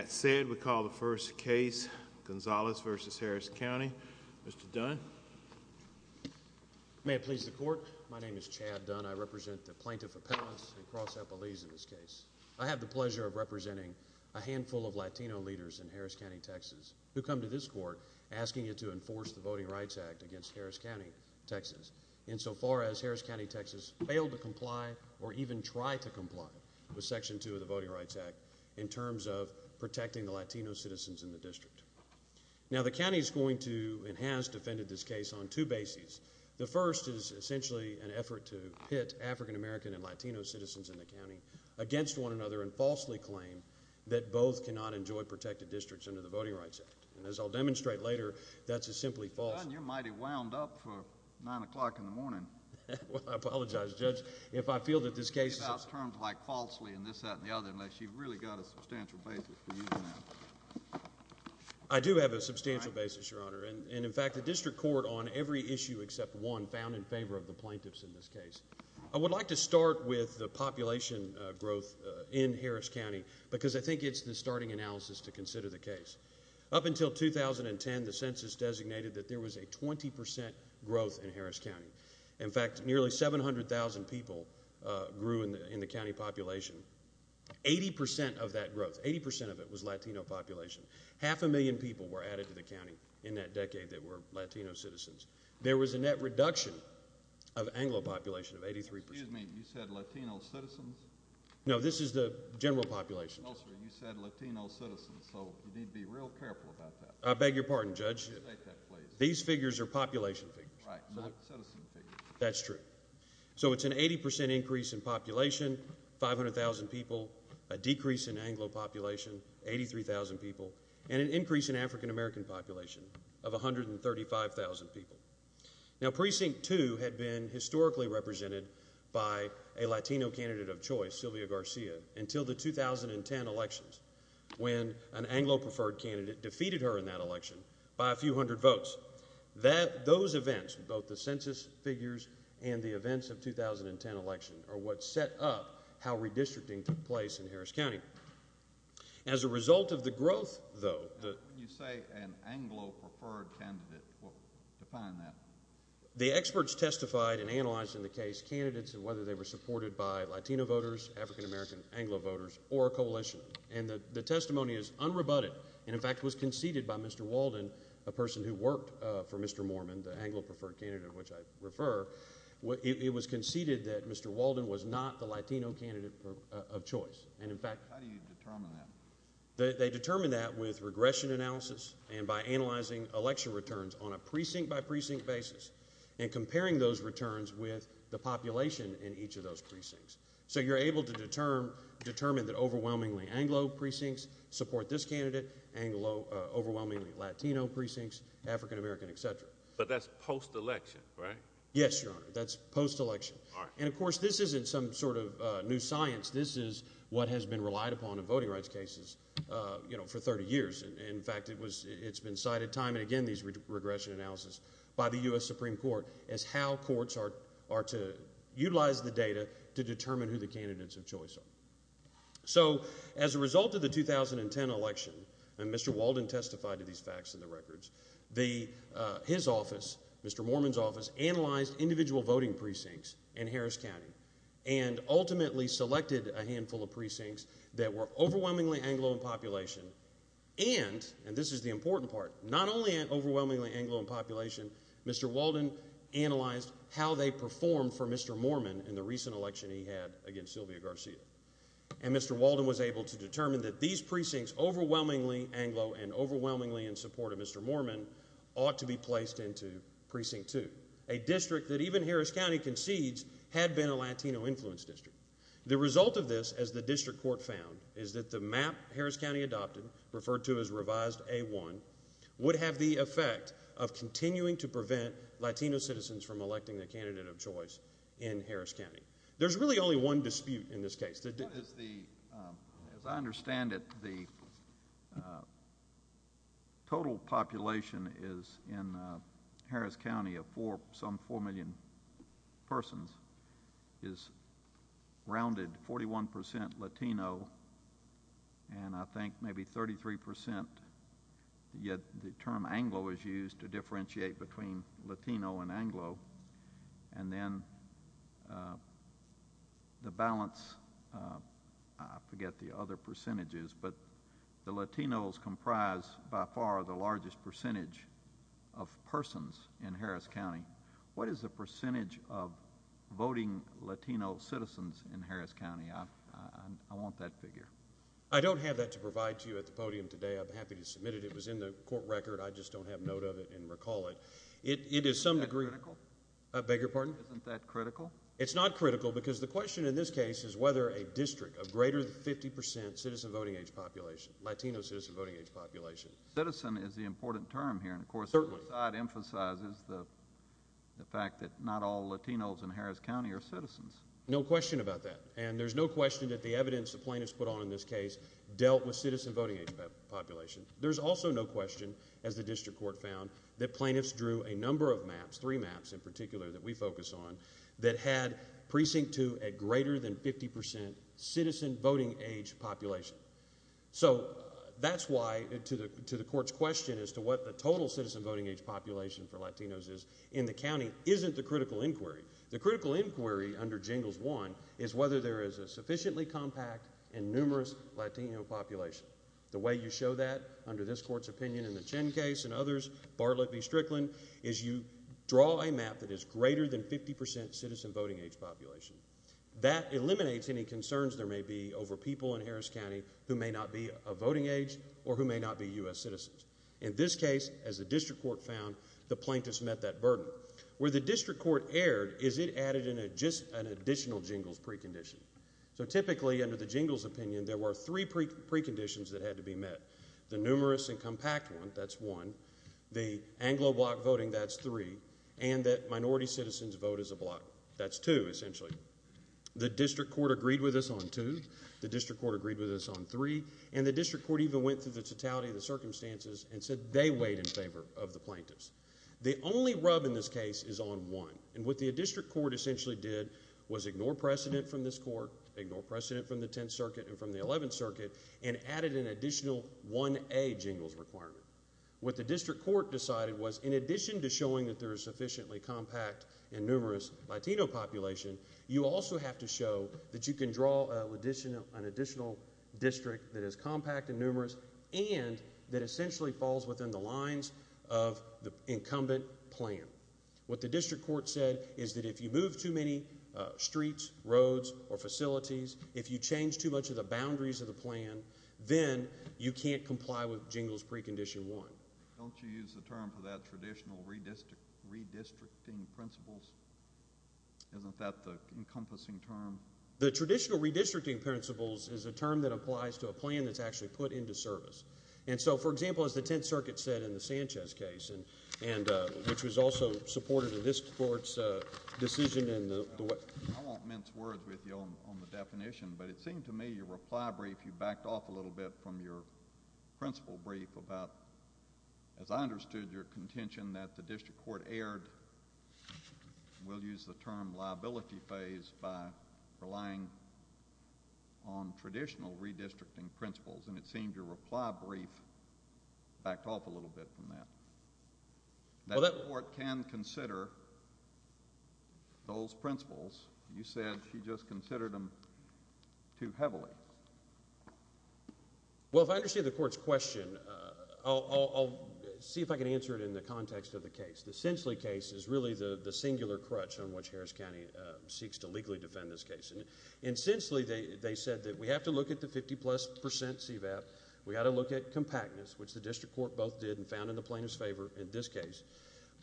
cetera. With that said, we call the first case, Gonzales v. Harris County, Mr. Dunn. May it please the Court, my name is Chad Dunn, I represent the Plaintiff Appellants and Cross Appellees in this case. I have the pleasure of representing a handful of Latino leaders in Harris County, Texas who come to this Court asking it to enforce the Voting Rights Act against Harris County, Texas. Insofar as Harris County, Texas failed to comply or even tried to comply with Section 1, protecting the Latino citizens in the district. Now the County is going to and has defended this case on two bases. The first is essentially an effort to pit African American and Latino citizens in the county against one another and falsely claim that both cannot enjoy protected districts under the Voting Rights Act. And as I'll demonstrate later, that's a simply false... Dunn, you're mighty wound up for 9 o'clock in the morning. Well, I apologize, Judge. If I feel that this case... You can't give out terms like falsely and this, that, and the other unless you've really got a substantial basis for using that. I do have a substantial basis, Your Honor, and in fact the District Court on every issue except one found in favor of the plaintiffs in this case. I would like to start with the population growth in Harris County because I think it's the starting analysis to consider the case. Up until 2010, the Census designated that there was a 20% growth in Harris County. In fact, nearly 700,000 people grew in the county population. 80% of that growth, 80% of it was Latino population. Half a million people were added to the county in that decade that were Latino citizens. There was a net reduction of Anglo population of 83%. Excuse me. You said Latino citizens? No. This is the general population. No, sir. You said Latino citizens. So you need to be real careful about that. I beg your pardon, Judge. State that, please. These figures are population figures. Right. Not citizen figures. That's true. So it's an 80% increase in population, 500,000 people, a decrease in Anglo population, 83,000 people, and an increase in African-American population of 135,000 people. Now Precinct 2 had been historically represented by a Latino candidate of choice, Sylvia Garcia, until the 2010 elections when an Anglo-preferred candidate defeated her in that election by a few hundred votes. Those events, both the census figures and the events of the 2010 election, are what set up how redistricting took place in Harris County. As a result of the growth, though, the experts testified and analyzed in the case candidates and whether they were supported by Latino voters, African-American, Anglo voters, or a coalition. And the testimony is unrebutted and, in fact, was conceded by Mr. Walden, a person who worked for Mr. Mormon, the Anglo-preferred candidate of which I refer, it was conceded that Mr. Walden was not the Latino candidate of choice, and, in fact, they determined that with regression analysis and by analyzing election returns on a precinct-by-precinct basis and comparing those returns with the population in each of those precincts. So you're able to determine that overwhelmingly Anglo precincts support this candidate, overwhelmingly Latino precincts, African-American, etc. But that's post-election, right? Yes, Your Honor, that's post-election. All right. And, of course, this isn't some sort of new science. This is what has been relied upon in voting rights cases, you know, for 30 years. In fact, it's been cited time and again, these regression analysis, by the U.S. Supreme Court as how courts are to utilize the data to determine who the candidates of choice are. So as a result of the 2010 election, and Mr. Walden testified to these facts in the records, his office, Mr. Mormon's office, analyzed individual voting precincts in Harris County and ultimately selected a handful of precincts that were overwhelmingly Anglo in population and, and this is the important part, not only overwhelmingly Anglo in population, Mr. Walden analyzed how they performed for Mr. Mormon in the recent election he had against Sylvia Garcia. And Mr. Walden was able to determine that these precincts, overwhelmingly Anglo and overwhelmingly in support of Mr. Mormon, ought to be placed into Precinct 2, a district that even Harris County concedes had been a Latino-influenced district. The result of this, as the district court found, is that the map Harris County adopted, referred to as Revised A-1, would have the effect of continuing to prevent Latino citizens from electing the candidate of choice in Harris County. There's really only one dispute in this case. What is the, as I understand it, the total population is in Harris County of four, some 33 percent, yet the term Anglo is used to differentiate between Latino and Anglo. And then the balance, I forget the other percentages, but the Latinos comprise by far the largest percentage of persons in Harris County. What is the percentage of voting Latino citizens in Harris County? I, I, I want that figure. I don't have that to provide to you at the podium today. I'd be happy to submit it. It was in the court record. I just don't have note of it and recall it. It is some degree. Is that critical? I beg your pardon? Isn't that critical? It's not critical because the question in this case is whether a district of greater than 50 percent citizen voting age population, Latino citizen voting age population. Citizen is the important term here. Certainly. And, of course, it emphasizes the fact that not all Latinos in Harris County are citizens. No question about that. And there's no question that the evidence the plaintiffs put on in this case dealt with citizen voting age population. There's also no question, as the district court found, that plaintiffs drew a number of maps, three maps in particular that we focus on, that had precinct two at greater than 50 percent citizen voting age population. So that's why to the, to the court's question as to what the total citizen voting age population for Latinos is in the county isn't the critical inquiry. The critical inquiry under jingles one is whether there is a sufficiently compact and numerous Latino population. The way you show that under this court's opinion in the Chen case and others, Bartlett v. Strickland, is you draw a map that is greater than 50 percent citizen voting age population. That eliminates any concerns there may be over people in Harris County who may not be a voting age or who may not be U.S. citizens. In this case, as the district court found, the plaintiffs met that burden. Where the district court erred is it added an additional jingles precondition. So typically under the jingles opinion, there were three preconditions that had to be met. The numerous and compact one, that's one. The Anglo block voting, that's three. And that minority citizens vote as a block, that's two essentially. The district court agreed with us on two. The district court agreed with us on three. And the district court even went through the totality of the circumstances and said they weighed in favor of the plaintiffs. The only rub in this case is on one. And what the district court essentially did was ignore precedent from this court, ignore precedent from the Tenth Circuit and from the Eleventh Circuit, and added an additional 1A jingles requirement. What the district court decided was in addition to showing that there is sufficiently compact and numerous Latino population, you also have to show that you can draw an additional district that is compact and numerous and that essentially falls within the lines of the incumbent plan. What the district court said is that if you move too many streets, roads, or facilities, if you change too much of the boundaries of the plan, then you can't comply with jingles precondition one. Don't you use the term for that traditional redistricting principles? Isn't that the encompassing term? The traditional redistricting principles is a term that applies to a plan that's actually put into service. And so, for example, as the Tenth Circuit said in the Sanchez case, and which was also supported in this court's decision and the what. I won't mince words with you on the definition, but it seemed to me your reply brief, you backed off a little bit from your principle brief about, as I understood your contention that the district court erred, we'll use the term liability phase, by relying on traditional redistricting principles, and it seemed your reply brief backed off a little bit from that. That court can consider those principles. You said she just considered them too heavily. Well, if I understand the court's question, I'll see if I can answer it in the context of the case. The Sensley case is really the singular crutch on which Harris County seeks to legally defend this case. In Sensley, they said that we have to look at the 50 plus percent CVAP, we've got to look at compactness, which the district court both did and found in the plaintiff's favor in this case.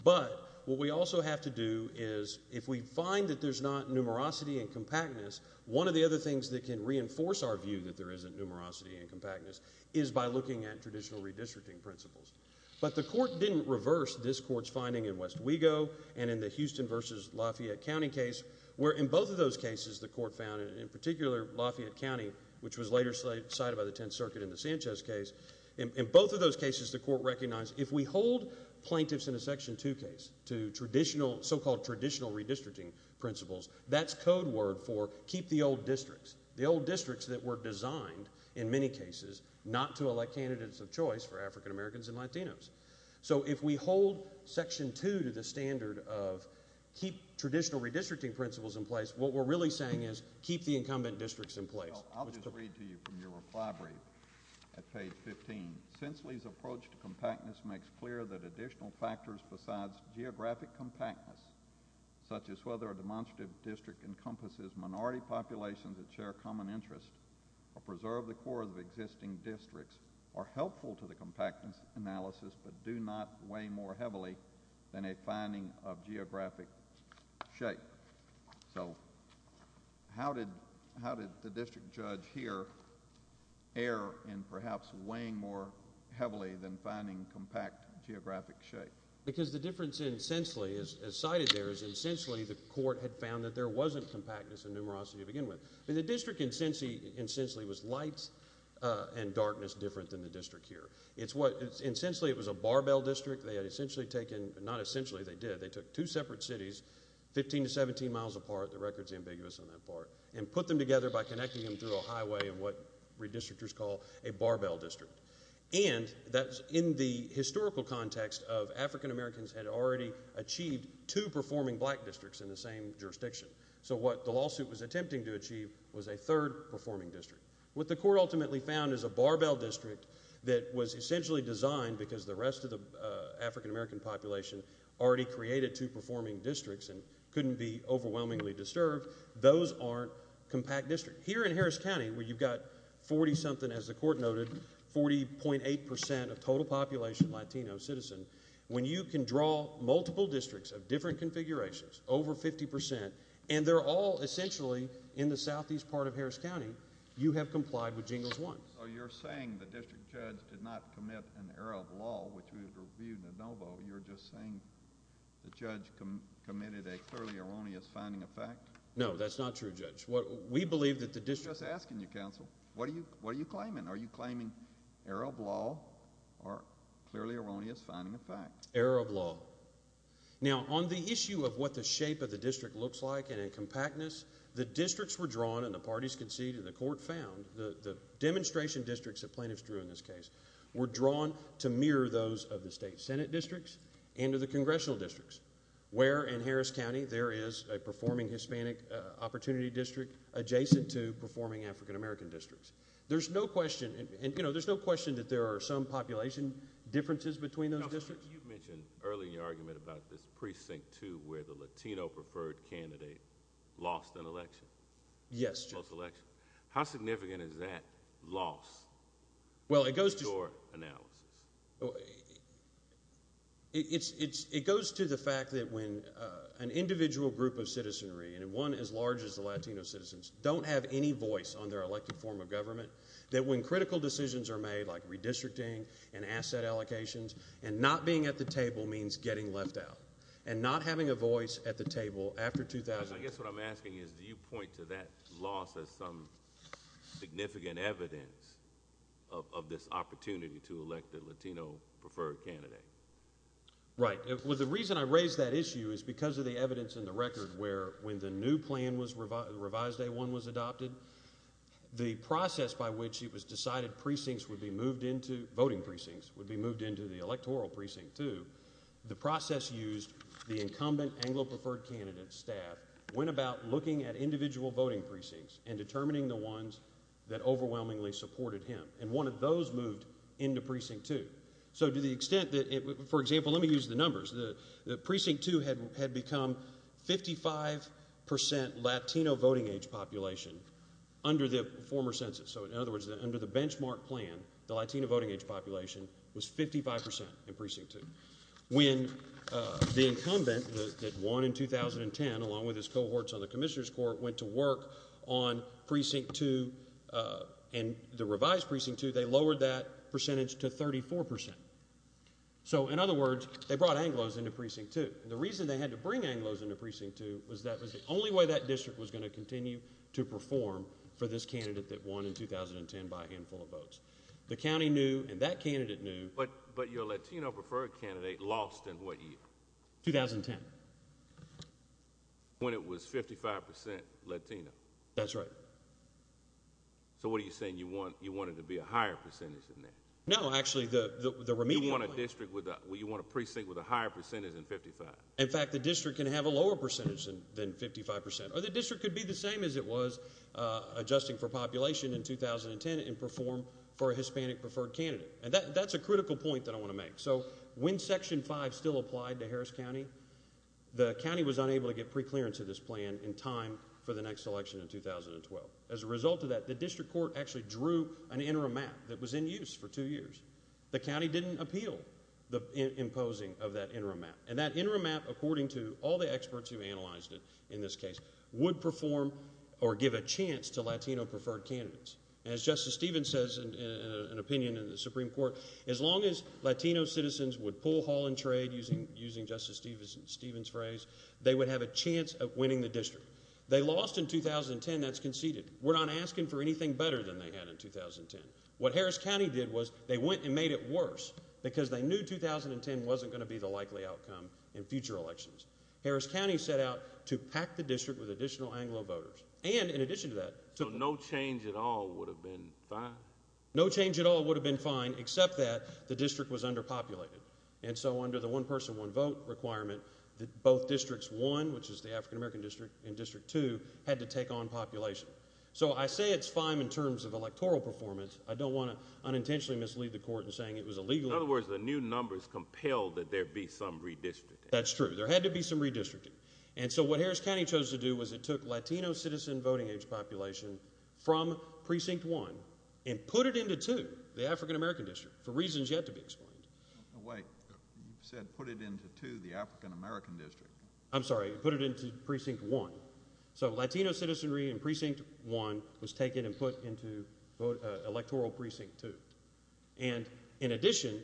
But, what we also have to do is, if we find that there's not numerosity and compactness, one of the other things that can reinforce our view that there isn't numerosity and compactness is by looking at traditional redistricting principles. But the court didn't reverse this court's finding in West Wego and in the Houston versus Lafayette County case, where in both of those cases the court found, in particular Lafayette County, which was later cited by the Tenth Circuit in the Sanchez case, in both of those cases the court recognized, if we hold plaintiffs in a Section 2 case to traditional, so-called keep-the-old-districts, the old districts that were designed, in many cases, not to elect candidates of choice for African Americans and Latinos. So if we hold Section 2 to the standard of keep traditional redistricting principles in place, what we're really saying is keep the incumbent districts in place. I'll just read to you from your reply brief, at page 15, Sensley's approach to compactness makes clear that additional factors besides geographic compactness, such as whether a constitutive district encompasses minority populations that share common interests or preserve the core of existing districts, are helpful to the compactness analysis but do not weigh more heavily than a finding of geographic shape. So how did the district judge here err in perhaps weighing more heavily than finding compact geographic shape? Because the difference in Sensley, as cited there, is in Sensley the court had found that there wasn't compactness and numerosity to begin with. But the district in Sensley was lights and darkness different than the district here. It's what, in Sensley it was a barbell district, they had essentially taken, not essentially they did, they took two separate cities, 15 to 17 miles apart, the record's ambiguous on that part, and put them together by connecting them through a highway in what redistrictors call a barbell district. And that's in the historical context of African Americans had already achieved two performing black districts in the same jurisdiction. So what the lawsuit was attempting to achieve was a third performing district. What the court ultimately found is a barbell district that was essentially designed because the rest of the African American population already created two performing districts and couldn't be overwhelmingly disturbed. Those aren't compact districts. Here in Harris County, where you've got 40-something, as the court noted, 40.8% of total population Latino citizen, when you can draw multiple districts of different configurations, over 50%, and they're all essentially in the southeast part of Harris County, you have complied with Jingles 1. So you're saying the district judge did not commit an error of law, which we reviewed in Anovo, you're just saying the judge committed a clearly erroneous finding of fact? No, that's not true, Judge. We believe that the district... I'm just asking you, counsel, what are you claiming? Are you claiming error of law or clearly erroneous finding of fact? Error of law. Now, on the issue of what the shape of the district looks like and in compactness, the districts were drawn, and the parties conceded, and the court found, the demonstration districts that plaintiffs drew in this case were drawn to mirror those of the state senate districts and of the congressional districts, where in Harris County there is a performing Hispanic opportunity district adjacent to performing African American districts. There's no question, and there's no question that there are some population differences between those districts. Counsel, you mentioned earlier in your argument about this Precinct 2, where the Latino preferred candidate lost an election. Yes, Judge. A close election. How significant is that loss in your analysis? It goes to the fact that when an individual group of citizenry, and one as large as the Latino citizens, don't have any voice on their elected form of government, that when critical decisions are made, like redistricting and asset allocations, and not being at the table means getting left out, and not having a voice at the table after 2000... I guess what I'm asking is, do you point to that loss as some significant evidence of this opportunity to elect a Latino preferred candidate? Right. Well, the reason I raise that issue is because of the evidence in the record where, when the new plan was revised, Revised A-1 was adopted, the process by which it was decided precincts would be moved into, voting precincts, would be moved into the electoral precinct 2, the process used the incumbent Anglo preferred candidate staff, went about looking at individual voting precincts and determining the ones that overwhelmingly supported him. And one of those moved into precinct 2. So to the extent that, for example, let me use the numbers. The precinct 2 had become 55% Latino voting age population under the former census. So in other words, under the benchmark plan, the Latino voting age population was 55% in precinct 2. When the incumbent that won in 2010, along with his cohorts on the Commissioner's Court, went to work on precinct 2 and the revised precinct 2, they lowered that percentage to 34%. So in other words, they brought Anglos into precinct 2. And the reason they had to bring Anglos into precinct 2 was that was the only way that district was going to continue to perform for this candidate that won in 2010 by a handful of votes. The county knew and that candidate knew. But your Latino preferred candidate lost in what year? 2010. When it was 55% Latino. That's right. So what are you saying? You want it to be a higher percentage than that? No, actually, the remedial. You want a precinct with a higher percentage than 55? In fact, the district can have a lower percentage than 55%. Or the district could be the same as it was adjusting for population in 2010 and perform for a Hispanic preferred candidate. And that's a critical point that I want to make. So when Section 5 still applied to Harris County, the county was unable to get preclearance of this plan in time for the next election in 2012. As a result of that, the district court actually drew an interim map that was in use for two years. The county didn't appeal the imposing of that interim map. And that interim map, according to all the experts who analyzed it in this case, would perform or give a chance to Latino preferred candidates. As Justice Stevens says in an opinion in the Supreme Court, as long as Latino citizens would pull, haul, and trade, using Justice Stevens' phrase, they would have a chance of winning the district. They lost in 2010. That's conceded. We're not asking for anything better than they had in 2010. What Harris County did was they went and made it worse because they knew 2010 wasn't going to be the likely outcome in future elections. Harris County set out to pack the district with additional Anglo voters. And in addition to that... So no change at all would have been fine? No change at all would have been fine, except that the district was underpopulated. And so under the one person, one vote requirement, both Districts 1, which is the African American district, and District 2 had to take on population. So I say it's fine in terms of electoral performance. I don't want to unintentionally mislead the court in saying it was illegal. In other words, the new numbers compelled that there be some redistricting. That's true. There had to be some redistricting. And so what Harris County chose to do was it took Latino citizen voting age population from Precinct 1 and put it into 2, the African American district, for reasons yet to be explained. Wait. You said put it into 2, the African American district. I'm sorry. Put it into Precinct 1. So Latino citizenry in Precinct 1 was taken and put into electoral Precinct 2. And in addition,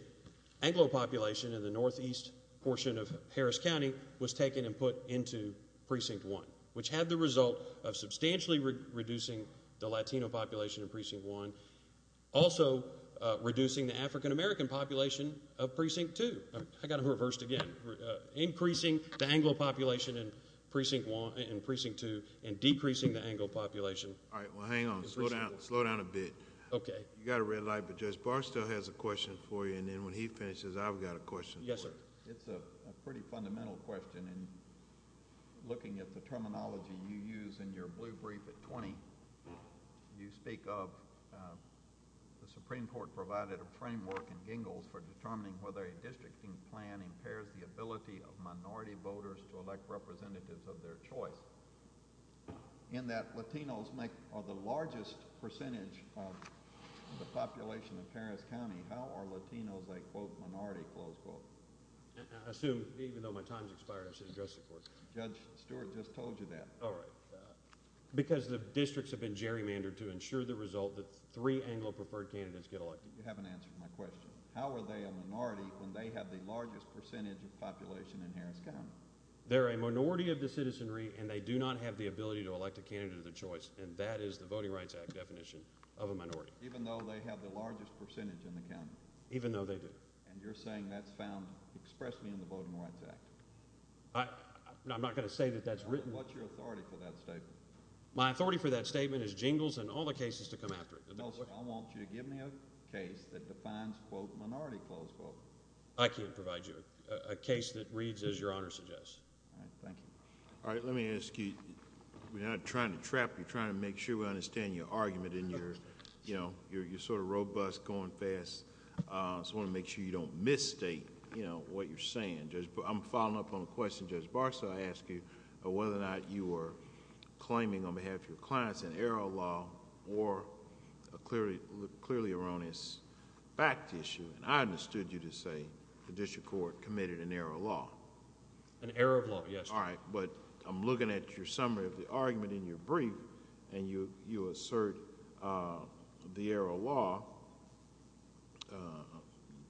Anglo population in the northeast portion of Harris County was taken and put into Precinct 1, which had the result of substantially reducing the Latino population in Precinct 1, also reducing the African American population of Precinct 2. I got it reversed again. Increasing the Anglo population in Precinct 2 and decreasing the Anglo population. All right. Well, hang on. Slow down a bit. Okay. You got a red light, but Judge Barr still has a question for you. And then when he finishes, I've got a question. Yes, sir. It's a pretty fundamental question. And looking at the terminology you use in your blue brief at 20, you speak of the Supreme Court provided a framework in Gingles for determining whether a districting plan impairs the ability of minority voters to elect representatives of their choice. In that Latinos make the largest percentage of the population of Harris County, how are Latinos a quote minority, close quote? Assume, even though my time's expired, I should address the court. Judge Stewart just told you that. All right. Because the districts have been gerrymandered to ensure the result that three Anglo-preferred candidates get elected. You haven't answered my question. How are they a minority when they have the largest percentage of population in Harris County? They're a minority of the citizenry, and they do not have the ability to elect a candidate of their choice. And that is the Voting Rights Act definition of a minority. Even though they have the largest percentage in the county? Even though they do. And you're saying that's found expressly in the Voting Rights Act? I'm not going to say that that's written. What's your authority for that statement? My authority for that statement is Gingles and all the cases to come after it. I want you to give me a case that defines quote minority, close quote. I can't provide you a case that reads as Your Honor suggests. All right. Thank you. All right. Let me ask you. We're not trying to trap you. We're trying to make sure we understand your argument and you're sort of robust, going fast. I just want to make sure you don't misstate what you're saying. I'm following up on a question Judge Barsaw asked you, whether or not you are claiming on behalf of your clients an error of law or a clearly erroneous fact issue. And I understood you to say the district court committed an error of law. An error of law. Yes, Your Honor. All right. But I'm looking at your summary of the argument in your brief and you assert the error of law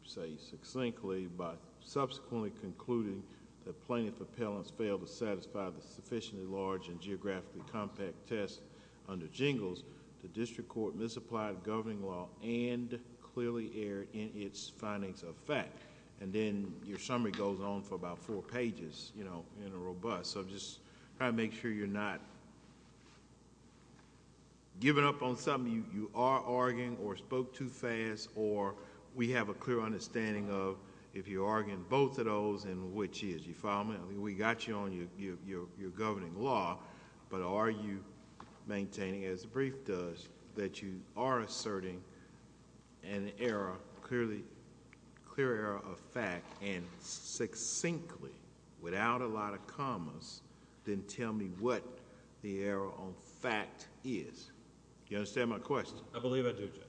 say succinctly by subsequently concluding that plaintiff appellants failed to satisfy the sufficiently large and geographically compact test under Gingles. The district court misapplied governing law and clearly erred in its findings of fact. Then your summary goes on for about four pages in a robust. I'm just trying to make sure you're not giving up on something you are arguing or spoke too fast or we have a clear understanding of if you're arguing both of those and which is. You follow me? We got you on your governing law, but are you maintaining as the brief does that you are asserting an error clearly, clear error of fact and succinctly without a lot of commas then tell me what the error on fact is. Do you understand my question? I believe I do, Judge.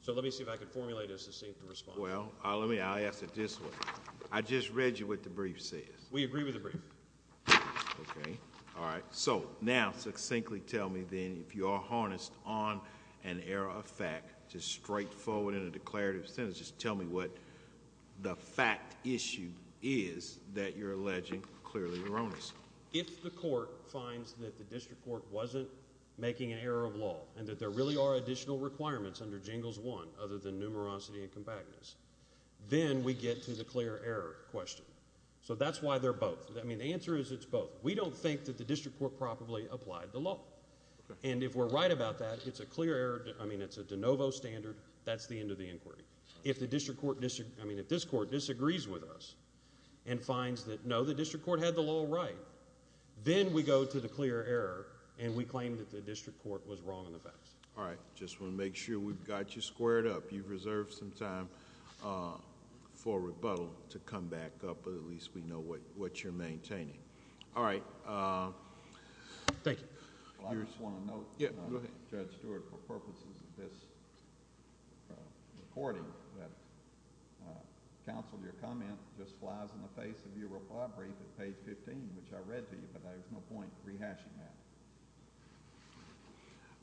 So let me see if I can formulate a succinct response. Well, I'll ask it this way. I just read you what the brief says. We agree with the brief. Okay. All right. So now succinctly tell me then if you are harnessed on an error of fact, just straightforward in a declarative sentence, just tell me what the fact issue is that you're alleging clearly erroneous. If the court finds that the district court wasn't making an error of law and that there really are additional requirements under Gingles one other than numerosity and compactness, then we get to the clear error question. So that's why they're both. I mean, the answer is it's both. We don't think that the district court properly applied the law. Okay. And if we're right about that, it's a clear error. I mean, it's a de novo standard. That's the end of the inquiry. If the district court disagrees with us and finds that no, the district court had the law right, then we go to the clear error and we claim that the district court was wrong on the facts. All right. Just want to make sure we've got you squared up. You've reserved some time for rebuttal to come back up, but at least we know what you're maintaining. All right. Thank you. Well, I just want to note, Judge Stewart, for purposes of this recording, that counsel, your comment just flies in the face of your reply brief at page 15, which I read to you, but there's no point in rehashing that.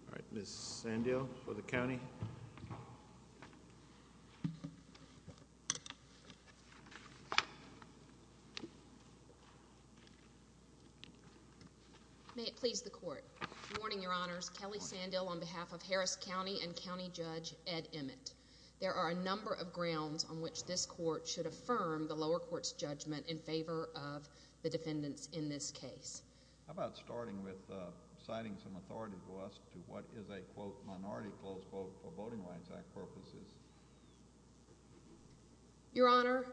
All right. Ms. Sandil for the county. May it please the court. Warning, Your Honors. Kelly Sandil on behalf of Harris County and County Judge Ed Emmett. There are a number of grounds on which this court should affirm the lower court's judgment in favor of the defendants in this case. How about starting with citing some authority to us to what is a, quote, minority, close quote, for Voting Rights Act purposes? Your Honor,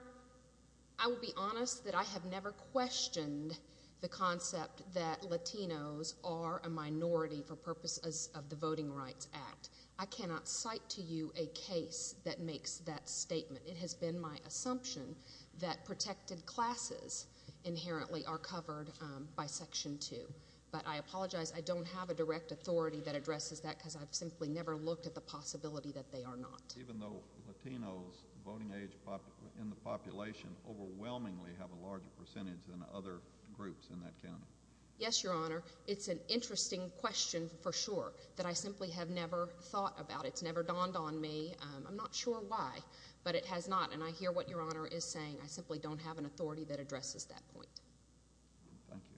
I will be honest that I have never questioned the concept that Latinos are a minority for purposes of the Voting Rights Act. I cannot cite to you a case that makes that statement. It has been my assumption that protected classes inherently are covered by Section 2. But I apologize. I don't have a direct authority that addresses that because I've simply never looked at the possibility that they are not. Even though Latinos voting age in the population overwhelmingly have a larger percentage than other groups in that county? Yes, Your Honor. It's an interesting question for sure that I simply have never thought about. It's never dawned on me. I'm not sure why, but it has not. And I hear what Your Honor is saying. I simply don't have an authority that addresses that point. Thank you.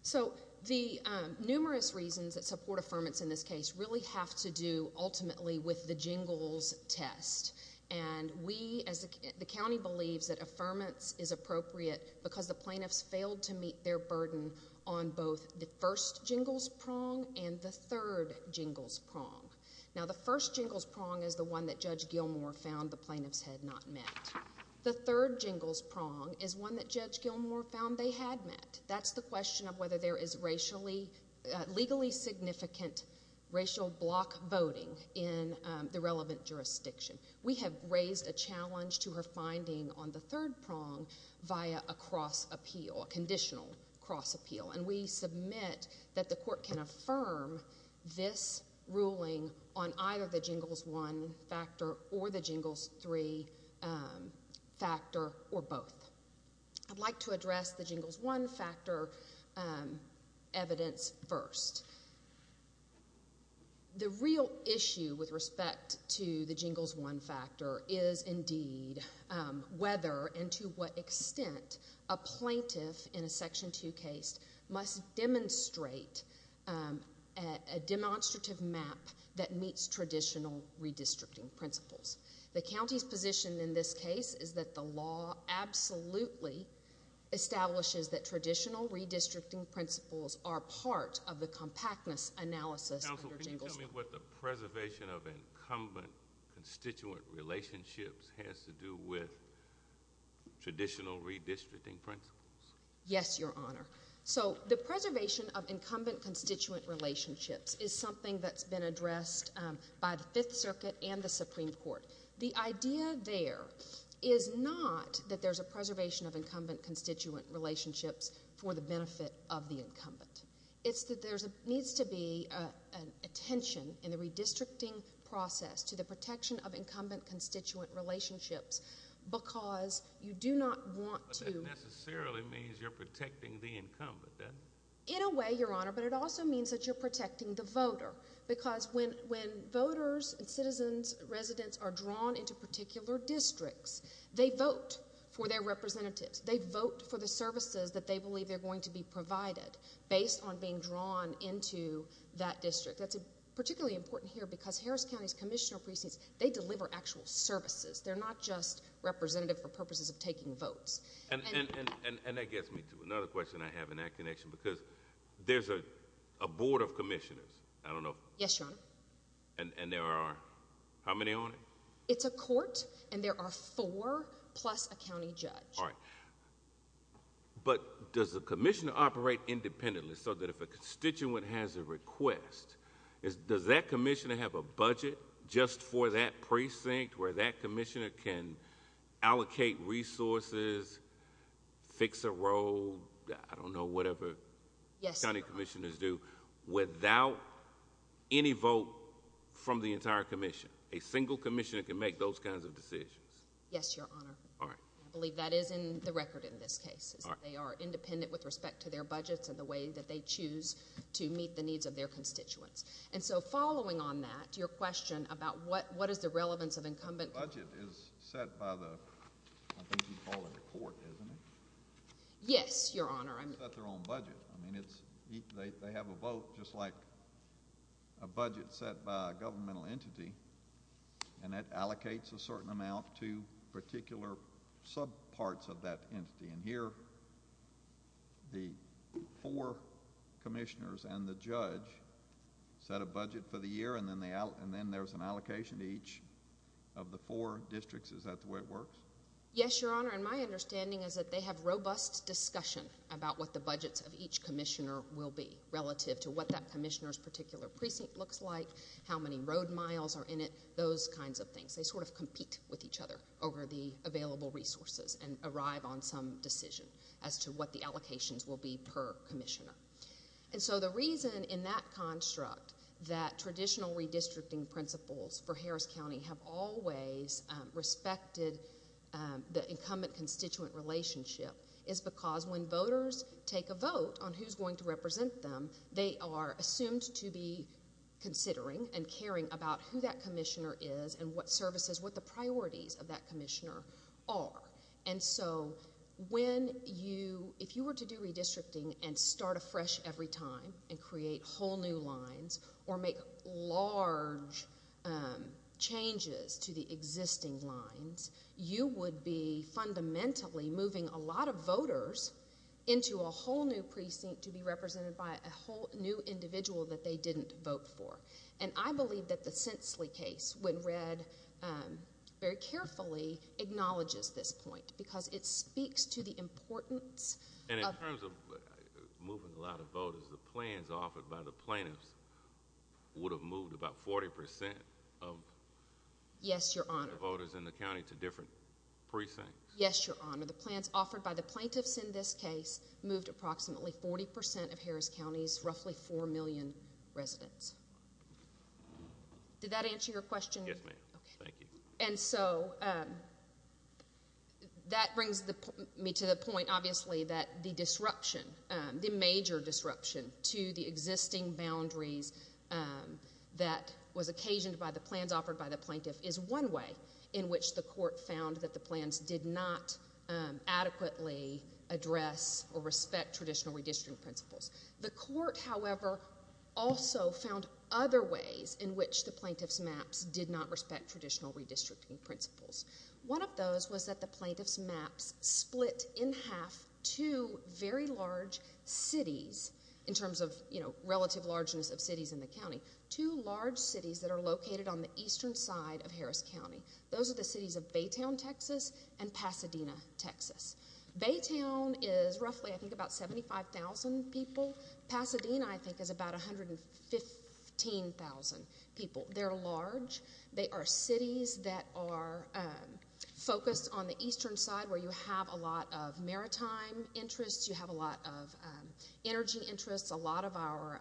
So the numerous reasons that support affirmance in this case really have to do ultimately with the jingles test. And we as the county believes that affirmance is appropriate because the plaintiffs failed to meet their burden on both the first jingles prong and the third jingles prong. Now, the first jingles prong is the one that Judge Gilmour found the plaintiffs had not met. The third jingles prong is one that Judge Gilmour found they had met. That's the question of whether there is legally significant racial block voting in the relevant jurisdiction. We have raised a challenge to her finding on the third prong via a cross appeal, a conditional cross appeal. And we submit that the court can affirm this ruling on either the jingles one factor or the jingles three factor or both. I'd like to address the jingles one factor evidence first. The real issue with respect to the jingles one factor is indeed whether and to what extent a plaintiff in a Section 2 case must demonstrate a demonstrative map that meets traditional redistricting principles. The county's position in this case is that the law absolutely establishes that traditional redistricting principles are part of the compactness analysis under jingles one. Counsel, can you tell me what the preservation of incumbent constituent relationships has to do with traditional redistricting principles? Yes, Your Honor. So the preservation of incumbent constituent relationships is something that's been addressed by the Fifth Circuit and the Supreme Court. The idea there is not that there's a preservation of incumbent constituent relationships for the benefit of the incumbent. It's that there needs to be an attention in the redistricting process to the protection of incumbent constituent relationships because you do not want to That necessarily means you're protecting the incumbent then? In a way, Your Honor, but it also means that you're protecting the voter because when voters and citizens, residents are drawn into particular districts, they vote for their representatives. They vote for the services that they believe they're going to be provided based on being drawn into that district. That's particularly important here because Harris County's commissioner precincts, they deliver actual services. They're not just representative for purposes of taking votes. And that gets me to another question I have in that connection because there's a board of commissioners. I don't know. Yes, Your Honor. And there are how many on it? It's a court and there are four plus a county judge. All right. But does the commissioner operate independently so that if a constituent has a request, does that commissioner have a budget just for that precinct where that commissioner can allocate resources, fix a road? I don't know. Whatever. Yes. County commissioners do without any vote from the entire commission. A single commissioner can make those kinds of decisions. Yes, Your Honor. All right. And I believe that is in the record in this case is that they are independent with respect to their budgets and the way that they choose to meet the needs of their constituents. And so following on that, your question about what is the relevance of incumbent. Budget is set by the, I think you call it the court, isn't it? Yes, Your Honor. They set their own budget. I mean, they have a vote just like a budget set by a governmental entity and that allocates a certain amount to particular subparts of that entity. And here the four commissioners and the judge set a budget for the year and then there's an allocation to each of the four districts. Is that the way it works? Yes, Your Honor. And my understanding is that they have robust discussion about what the budgets of each commissioner will be relative to what that commissioner's particular precinct looks like, how many road miles are in it, those kinds of things. They sort of compete with each other over the available resources and arrive on some decision as to what the allocations will be per commissioner. And so the reason in that construct that traditional redistricting principles for Harris County have always respected the incumbent-constituent relationship is because when voters take a vote on who's going to represent them, they are assumed to be considering and caring about who that commissioner is and what services, what the priorities of that commissioner are. And so when you, if you were to do redistricting and start afresh every time and create whole new lines or make large changes to the existing lines, you would be fundamentally moving a lot of voters into a whole new precinct to be represented by a whole new individual that they didn't vote for. And I believe that the Sensley case, when read very carefully, acknowledges this point because it speaks to the importance of... And in terms of moving a lot of voters, the plans offered by the plaintiffs would have moved about 40 percent of... Yes, Your Honor.... voters in the county to different precincts. Yes, Your Honor. The plans offered by the plaintiffs in this case moved approximately 40 percent of Harris County's roughly 4 million residents. Did that answer your question? Yes, ma'am. Thank you. And so, that brings me to the point, obviously, that the disruption, the major disruption to the existing boundaries that was occasioned by the plans offered by the plaintiff is one way in which the court found that the plans did not adequately address or respect traditional redistricting principles. The court, however, also found other ways in which the plaintiff's maps did not respect traditional redistricting principles. One of those was that the plaintiff's maps split in half two very large cities, in terms of, you know, relative largeness of cities in the county. Two large cities that are located on the eastern side of Harris County. Those are the cities of Baytown, Texas and Pasadena, Texas. Baytown is roughly, I think, about 75,000 people. Pasadena, I think, is about 115,000 people. They're large. They are cities that are focused on the eastern side where you have a lot of maritime interests. You have a lot of energy interests. A lot of our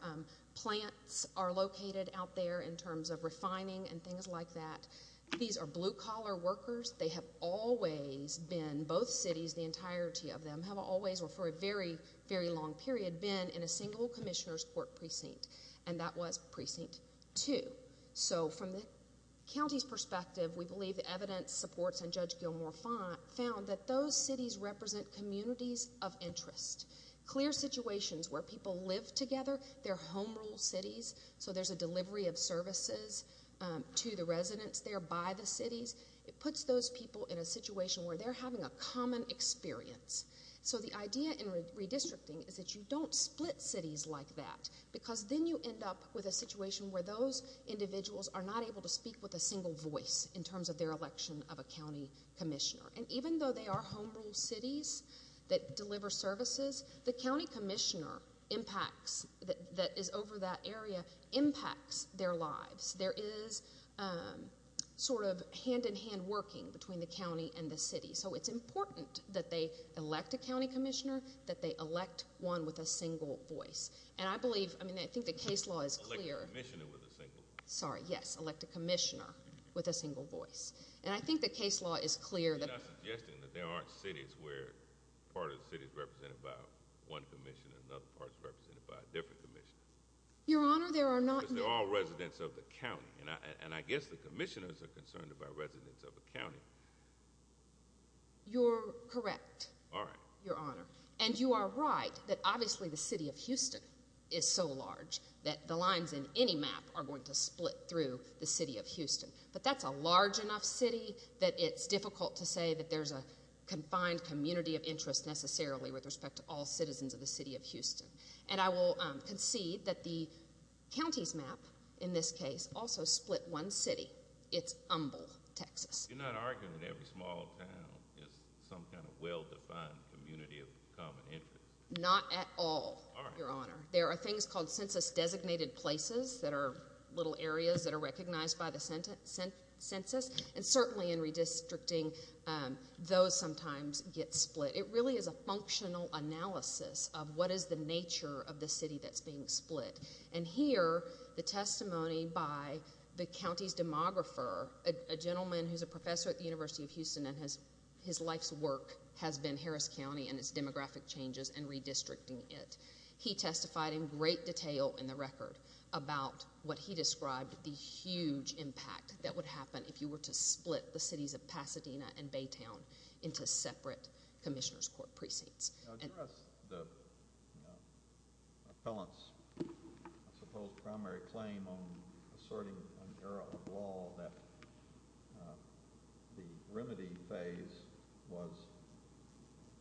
plants are located out there in terms of refining and things like that. These are blue-collar workers. They have always been, both cities, the entirety of them, have always, or for a very, very long period, been in a single commissioner's court precinct. And that was Precinct 2. So, from the county's perspective, we believe the evidence supports and Judge Gilmour found that those cities represent communities of interest. Clear situations where people live together. They're home rule cities, so there's a delivery of services to the residents there by the cities. It puts those people in a situation where they're having a common experience. So, the idea in redistricting is that you don't split cities like that because then you end up with a situation where those individuals are not able to speak with a single voice in terms of their election of a county commissioner. And even though they are home rule cities that deliver services, the county commissioner impacts, that is over that area, impacts their lives. There is sort of hand-in-hand working between the county and the city. So, it's important that they elect a county commissioner, that they elect one with a single voice. And I believe, I mean, I think the case law is clear. Elect a commissioner with a single voice. Sorry, yes, elect a commissioner with a single voice. And I think the case law is clear. You're not suggesting that there aren't cities where part of the city is represented by one commissioner and another part is represented by a different commissioner. Your Honor, there are not. Residents of the county. And I guess the commissioners are concerned about residents of the county. You're correct. All right. Your Honor. And you are right that obviously the city of Houston is so large that the lines in any map are going to split through the city of Houston. But that's a large enough city that it's difficult to say that there's a confined community of interest necessarily with respect to all citizens of the city of Houston. And I will concede that the county's map, in this case, also split one city. It's Humble, Texas. You're not arguing that every small town is some kind of well-defined community of common interest. Not at all, Your Honor. All right. There are things called census designated places that are little areas that are recognized by the census. And certainly in redistricting, those sometimes get split. It really is a functional analysis of what is the nature of the city that's being split. And here, the testimony by the county's demographer, a gentleman who's a professor at the University of Houston, and his life's work has been Harris County and its demographic changes and redistricting it. He testified in great detail in the record about what he described the huge impact that would happen if you were to split the cities of Pasadena and Baytown into separate commissioner's court precincts. Now, give us the appellant's, I suppose, primary claim on asserting an error of law that the remedy phase was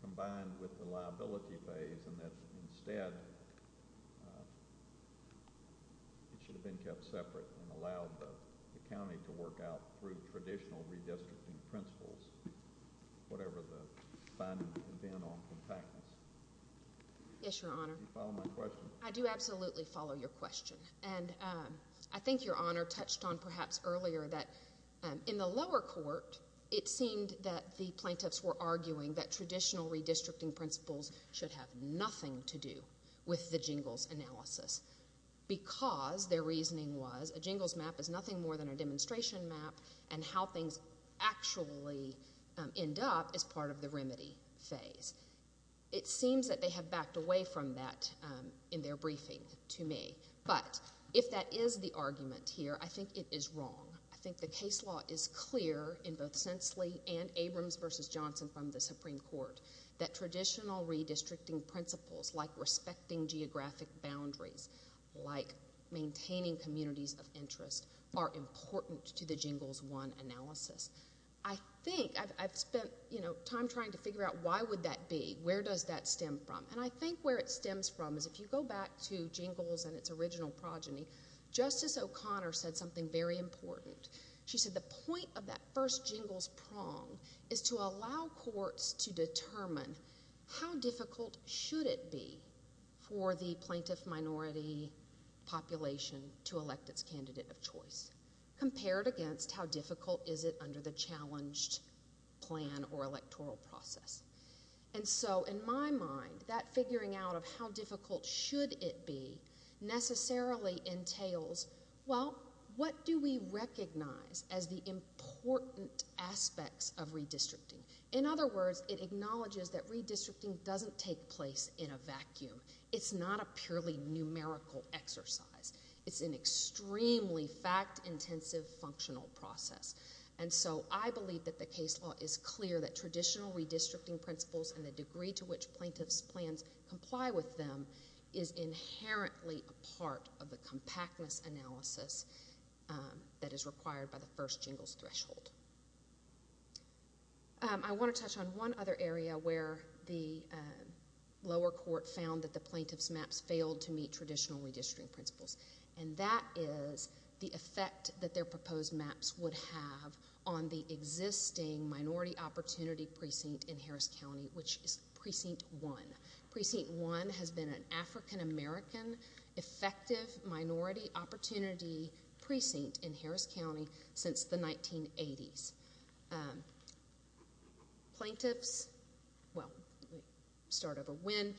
combined with the liability phase and that instead it should have been kept separate and allowed the county to work out through traditional redistricting principles, whatever the finding had been on compactness. Yes, Your Honor. Do you follow my question? I do absolutely follow your question. And I think Your Honor touched on perhaps earlier that in the lower court, it seemed that the plaintiffs were arguing that traditional redistricting principles should have nothing to do with the jingles analysis because their reasoning was a jingles map is nothing more than a demonstration map and how things actually end up is part of the remedy phase. It seems that they have backed away from that in their briefing to me. But if that is the argument here, I think it is wrong. I think the case law is clear in both Sensley and Abrams v. Johnson from the Supreme Court that traditional redistricting principles like respecting geographic boundaries, like maintaining communities of interest, are important to the jingles one analysis. I think I've spent time trying to figure out why would that be, where does that stem from? And I think where it stems from is if you go back to jingles and its original progeny, Justice O'Connor said something very important. She said the point of that first jingles prong is to allow courts to determine how difficult should it be for the plaintiff minority population to elect its candidate of choice compared against how difficult is it under the challenged plan or electoral process. And so in my mind, that figuring out of how difficult should it be necessarily entails, well, what do we recognize as the important aspects of redistricting? In other words, it acknowledges that redistricting doesn't take place in a vacuum. It's not a purely numerical exercise. It's an extremely fact-intensive functional process. And so I believe that the case law is clear that traditional redistricting principles and the degree to which plaintiff's plans comply with them is inherently a part of the compactness analysis that is required by the first jingles threshold. I want to touch on one other area where the lower court found that the plaintiff's maps failed to meet traditional redistricting principles, and that is the effect that their proposed maps would have on the existing minority opportunity precinct in Harris County, which is Precinct 1. Precinct 1 has been an African-American effective minority opportunity precinct in Harris County since the 1980s. Plaintiffs, well, start over. When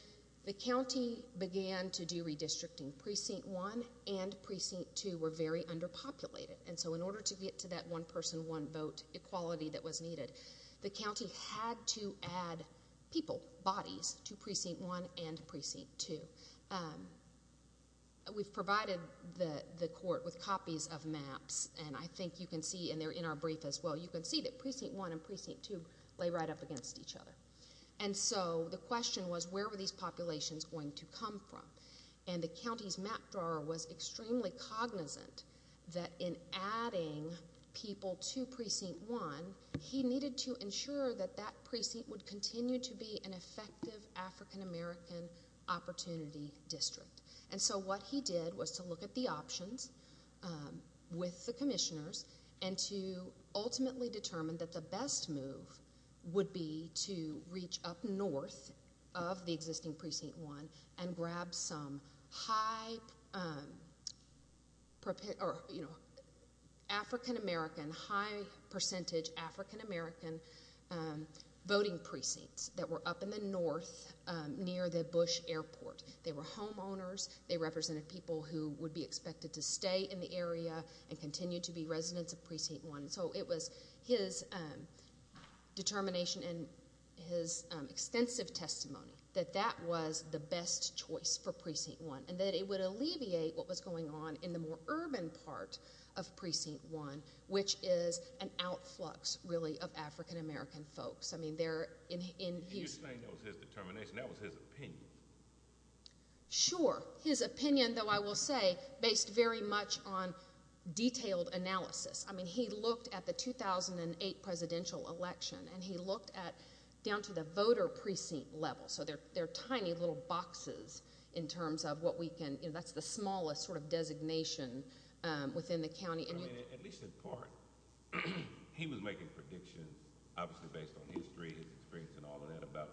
the county began to do redistricting, Precinct 1 and Precinct 2 were very underpopulated. And so in order to get to that one-person, one-vote equality that was needed, the county had to add people, bodies, to Precinct 1 and Precinct 2. We've provided the court with copies of maps, and I think you can see, and they're in our brief as well, you can see that Precinct 1 and Precinct 2 lay right up against each other. And so the question was, where were these populations going to come from? And the county's map drawer was extremely cognizant that in adding people to Precinct 1, he needed to ensure that that precinct would continue to be an effective African-American opportunity district. And so what he did was to look at the options with the commissioners and to ultimately determine that the best move would be to reach up north of the existing Precinct 1 and grab some high African-American, high percentage African-American voting precincts that were up in the north near the Bush Airport. They were homeowners. They represented people who would be expected to stay in the area and continue to be residents of Precinct 1. So it was his determination and his extensive testimony that that was the best choice for Precinct 1 and that it would alleviate what was going on in the more urban part of Precinct 1, which is an outflux, really, of African-American folks. I mean, they're in Houston. You're saying that was his determination. That was his opinion. Sure. His opinion, though, I will say, based very much on detailed analysis. I mean, he looked at the 2008 presidential election, and he looked down to the voter precinct level. So there are tiny little boxes in terms of what we can do. That's the smallest sort of designation within the county. At least in part, he was making predictions, obviously based on his experience and all of that, about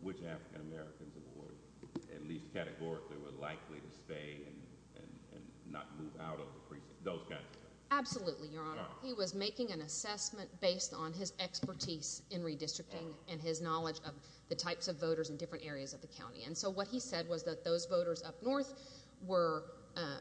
which African-Americans were at least categorically likely to stay and not move out of the precinct, those kinds of things. Absolutely, Your Honor. He was making an assessment based on his expertise in redistricting and his knowledge of the types of voters in different areas of the county. And so what he said was that those voters up north were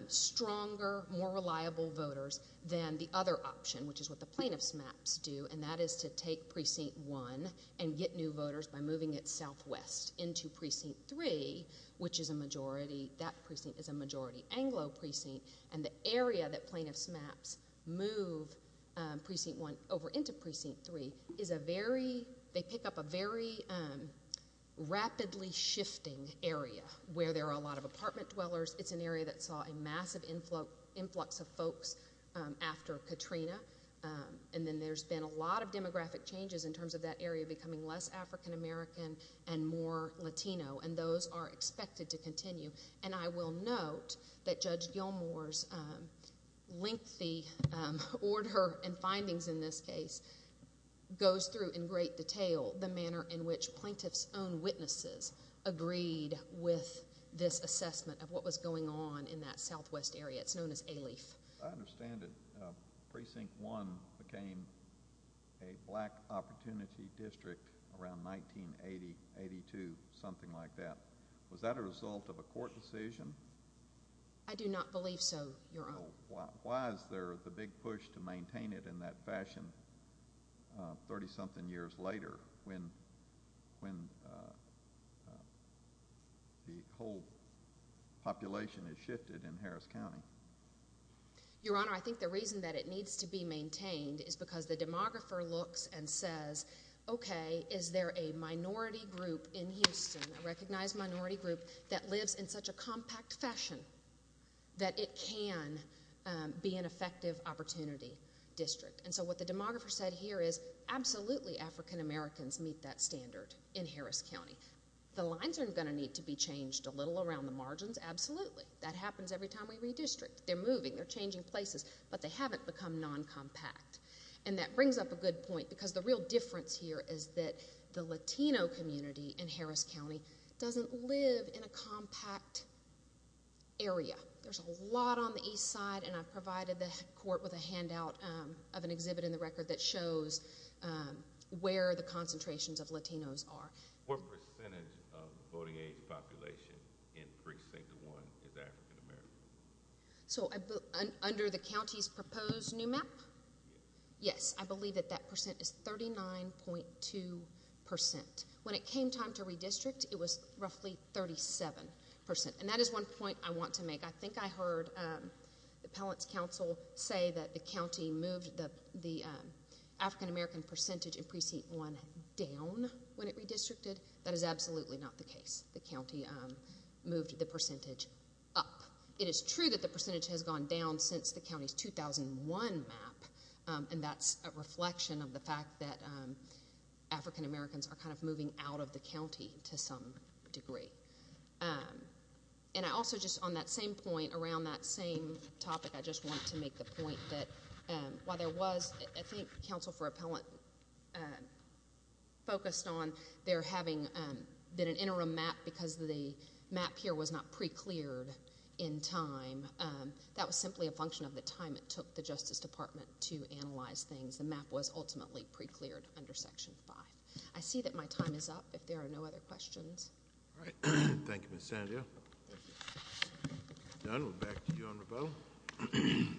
stronger, more reliable voters than the other option, which is what the plaintiff's maps do, and that is to take Precinct 1 and get new voters by moving it southwest into Precinct 3, which is a majority, that precinct is a majority Anglo precinct, and the area that plaintiff's maps move Precinct 1 over into Precinct 3 is a very—they pick up a very rapidly shifting area where there are a lot of apartment dwellers. It's an area that saw a massive influx of folks after Katrina, and then there's been a lot of demographic changes in terms of that area becoming less African-American and more Latino, and those are expected to continue. And I will note that Judge Gilmour's lengthy order and findings in this case goes through in great detail the manner in which plaintiff's own witnesses agreed with this assessment of what was going on in that southwest area. It's known as ALEIF. I understand it. Precinct 1 became a black opportunity district around 1982, something like that. Was that a result of a court decision? I do not believe so, Your Honor. Why is there the big push to maintain it in that fashion 30-something years later when the whole population has shifted in Harris County? Your Honor, I think the reason that it needs to be maintained is because the demographer looks and says, okay, is there a minority group in Houston, a recognized minority group, that lives in such a compact fashion that it can be an effective opportunity district? And so what the demographer said here is absolutely African-Americans meet that standard in Harris County. The lines aren't going to need to be changed a little around the margins, absolutely. That happens every time we redistrict. They're moving, they're changing places, but they haven't become non-compact. And that brings up a good point because the real difference here is that the Latino community in Harris County doesn't live in a compact area. There's a lot on the east side, and I've provided the court with a handout of an exhibit in the record that shows where the concentrations of Latinos are. What percentage of the voting age population in Precinct 1 is African-American? So under the county's proposed new map? Yes, I believe that that percent is 39.2%. When it came time to redistrict, it was roughly 37%. And that is one point I want to make. I think I heard the appellate's counsel say that the county moved the African-American percentage in Precinct 1 down when it redistricted. That is absolutely not the case. The county moved the percentage up. It is true that the percentage has gone down since the county's 2001 map, and that's a reflection of the fact that African-Americans are kind of moving out of the county to some degree. And I also just, on that same point, around that same topic, I just want to make the point that while there was, I think counsel for appellant focused on there having been an interim map because the map here was not pre-cleared in time. That was simply a function of the time it took the Justice Department to analyze things. The map was ultimately pre-cleared under Section 5. I see that my time is up if there are no other questions. All right. Thank you, Ms. Sandia. Done. We'll back to you, Honorable.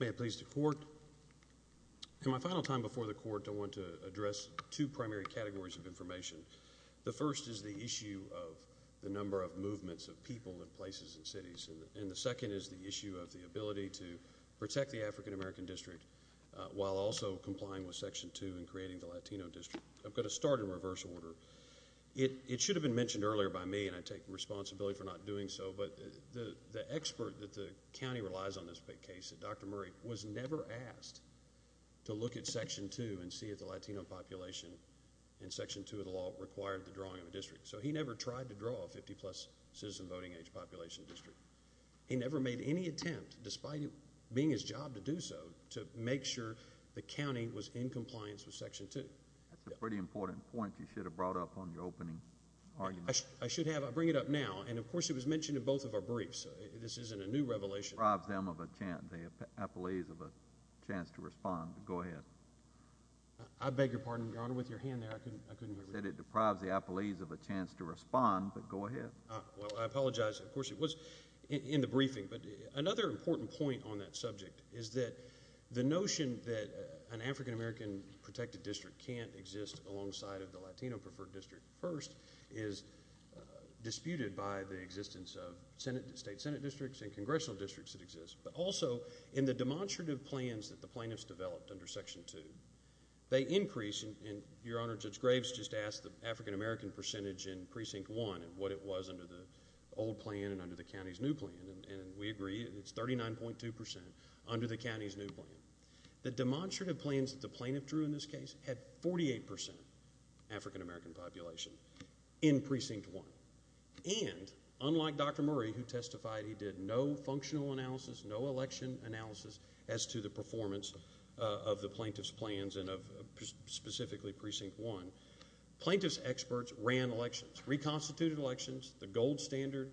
May it please the Court, in my final time before the Court, I want to address two primary categories of information. The first is the issue of the number of movements of people in places and cities, and the second is the issue of the ability to protect the African-American district while also complying with Section 2 and creating the Latino district. I'm going to start in reverse order. It should have been mentioned earlier by me, and I take responsibility for not doing so, but the expert that the county relies on in this case, Dr. Murray, was never asked to look at Section 2 and see if the Latino population in Section 2 of the law required the drawing of a district. So he never tried to draw a 50-plus citizen voting age population district. He never made any attempt, despite it being his job to do so, to make sure the county was in compliance with Section 2. That's a pretty important point you should have brought up on your opening argument. I should have. I'll bring it up now. And, of course, it was mentioned in both of our briefs. This isn't a new revelation. It deprives them of a chance, the appellees, of a chance to respond. Go ahead. I beg your pardon, Your Honor. With your hand there, I couldn't hear you. You said it deprives the appellees of a chance to respond, but go ahead. Well, I apologize. Of course, it was in the briefing. But another important point on that subject is that the notion that an African-American protected district can't exist alongside of the Latino preferred district first is disputed by the existence of state Senate districts and congressional districts that exist, but also in the demonstrative plans that the plaintiffs developed under Section 2. They increase, and Your Honor, Judge Graves just asked the African-American percentage in Precinct 1 and what it was under the old plan and under the county's new plan. And we agree. It's 39.2 percent under the county's new plan. The demonstrative plans that the plaintiff drew in this case had 48 percent African-American population in Precinct 1. And, unlike Dr. Murray, who testified he did no functional analysis, no election analysis, as to the performance of the plaintiff's plans and of specifically Precinct 1, plaintiff's experts ran elections, reconstituted elections, the gold standard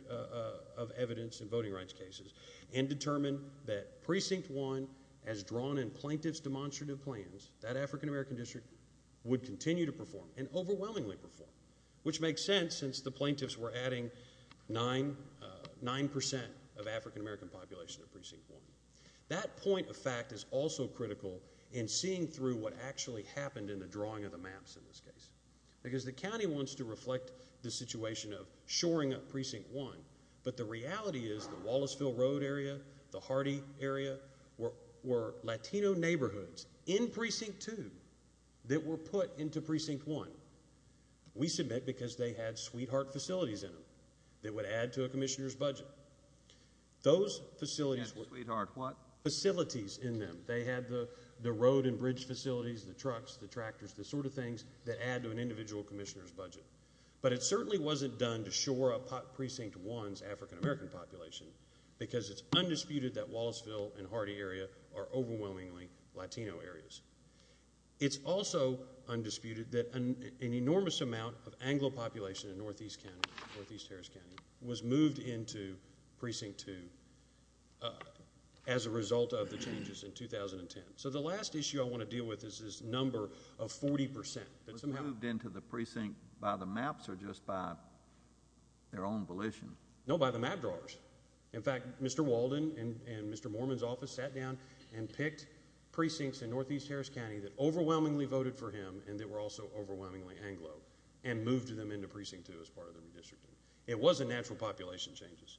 of evidence in voting rights cases, and determined that Precinct 1, as drawn in plaintiff's demonstrative plans, that African-American district would continue to perform and overwhelmingly perform, which makes sense since the plaintiffs were adding 9 percent of African-American population to Precinct 1. That point of fact is also critical in seeing through what actually happened in the drawing of the maps in this case, because the county wants to reflect the situation of shoring up Precinct 1, but the reality is the Wallaceville Road area, the Hardy area, were Latino neighborhoods in Precinct 2 that were put into Precinct 1. We submit because they had sweetheart facilities in them that would add to a commissioner's budget. Those facilities were... Yes, sweetheart what? Facilities in them. They had the road and bridge facilities, the trucks, the tractors, the sort of things that add to an individual commissioner's budget. But it certainly wasn't done to shore up Precinct 1's African-American population, because it's undisputed that Wallaceville and Hardy area are overwhelmingly Latino areas. It's also undisputed that an enormous amount of Anglo population in Northeast County, Northeast Harris County, was moved into Precinct 2 as a result of the changes in 2010. So the last issue I want to deal with is this number of 40 percent that somehow... Was moved into the precinct by the maps or just by their own volition? No, by the map drawers. In fact, Mr. Walden and Mr. Mormon's office sat down and picked precincts in Northeast Harris County that overwhelmingly voted for him and that were also overwhelmingly Anglo and moved them into Precinct 2 as part of the redistricting. It wasn't natural population changes.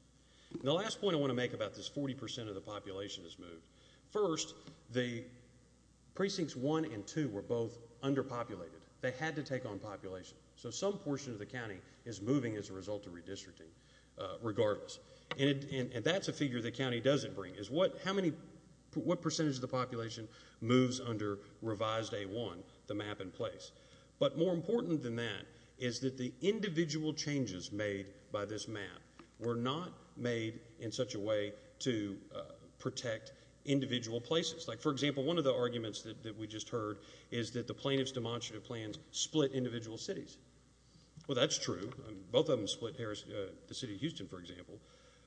The last point I want to make about this 40 percent of the population that's moved. First, the Precincts 1 and 2 were both underpopulated. They had to take on population. So some portion of the county is moving as a result of redistricting, regardless. And that's a figure the county doesn't bring, is what percentage of the population moves under revised A1, the map in place. But more important than that is that the individual changes made by this map were not made in such a way to protect individual places. Like, for example, one of the arguments that we just heard is that the plaintiff's demonstrative plans split individual cities. Well, that's true. Both of them split the city of Houston, for example.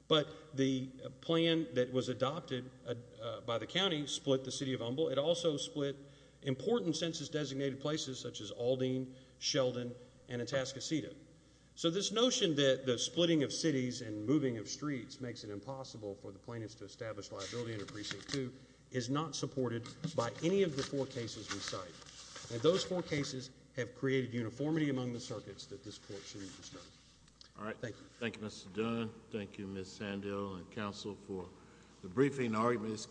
But the plan that was adopted by the county split the city of Humboldt. It also split important census-designated places such as Aldine, Sheldon, and Atascocita. So this notion that the splitting of cities and moving of streets makes it impossible for the plaintiffs to establish liability under Precinct 2 is not supported by any of the four cases we cite. And those four cases have created uniformity among the circuits that this court should be discussing. Thank you. Thank you, Mr. Dunn. Thank you, Ms. Sandill and counsel for the briefing arguments.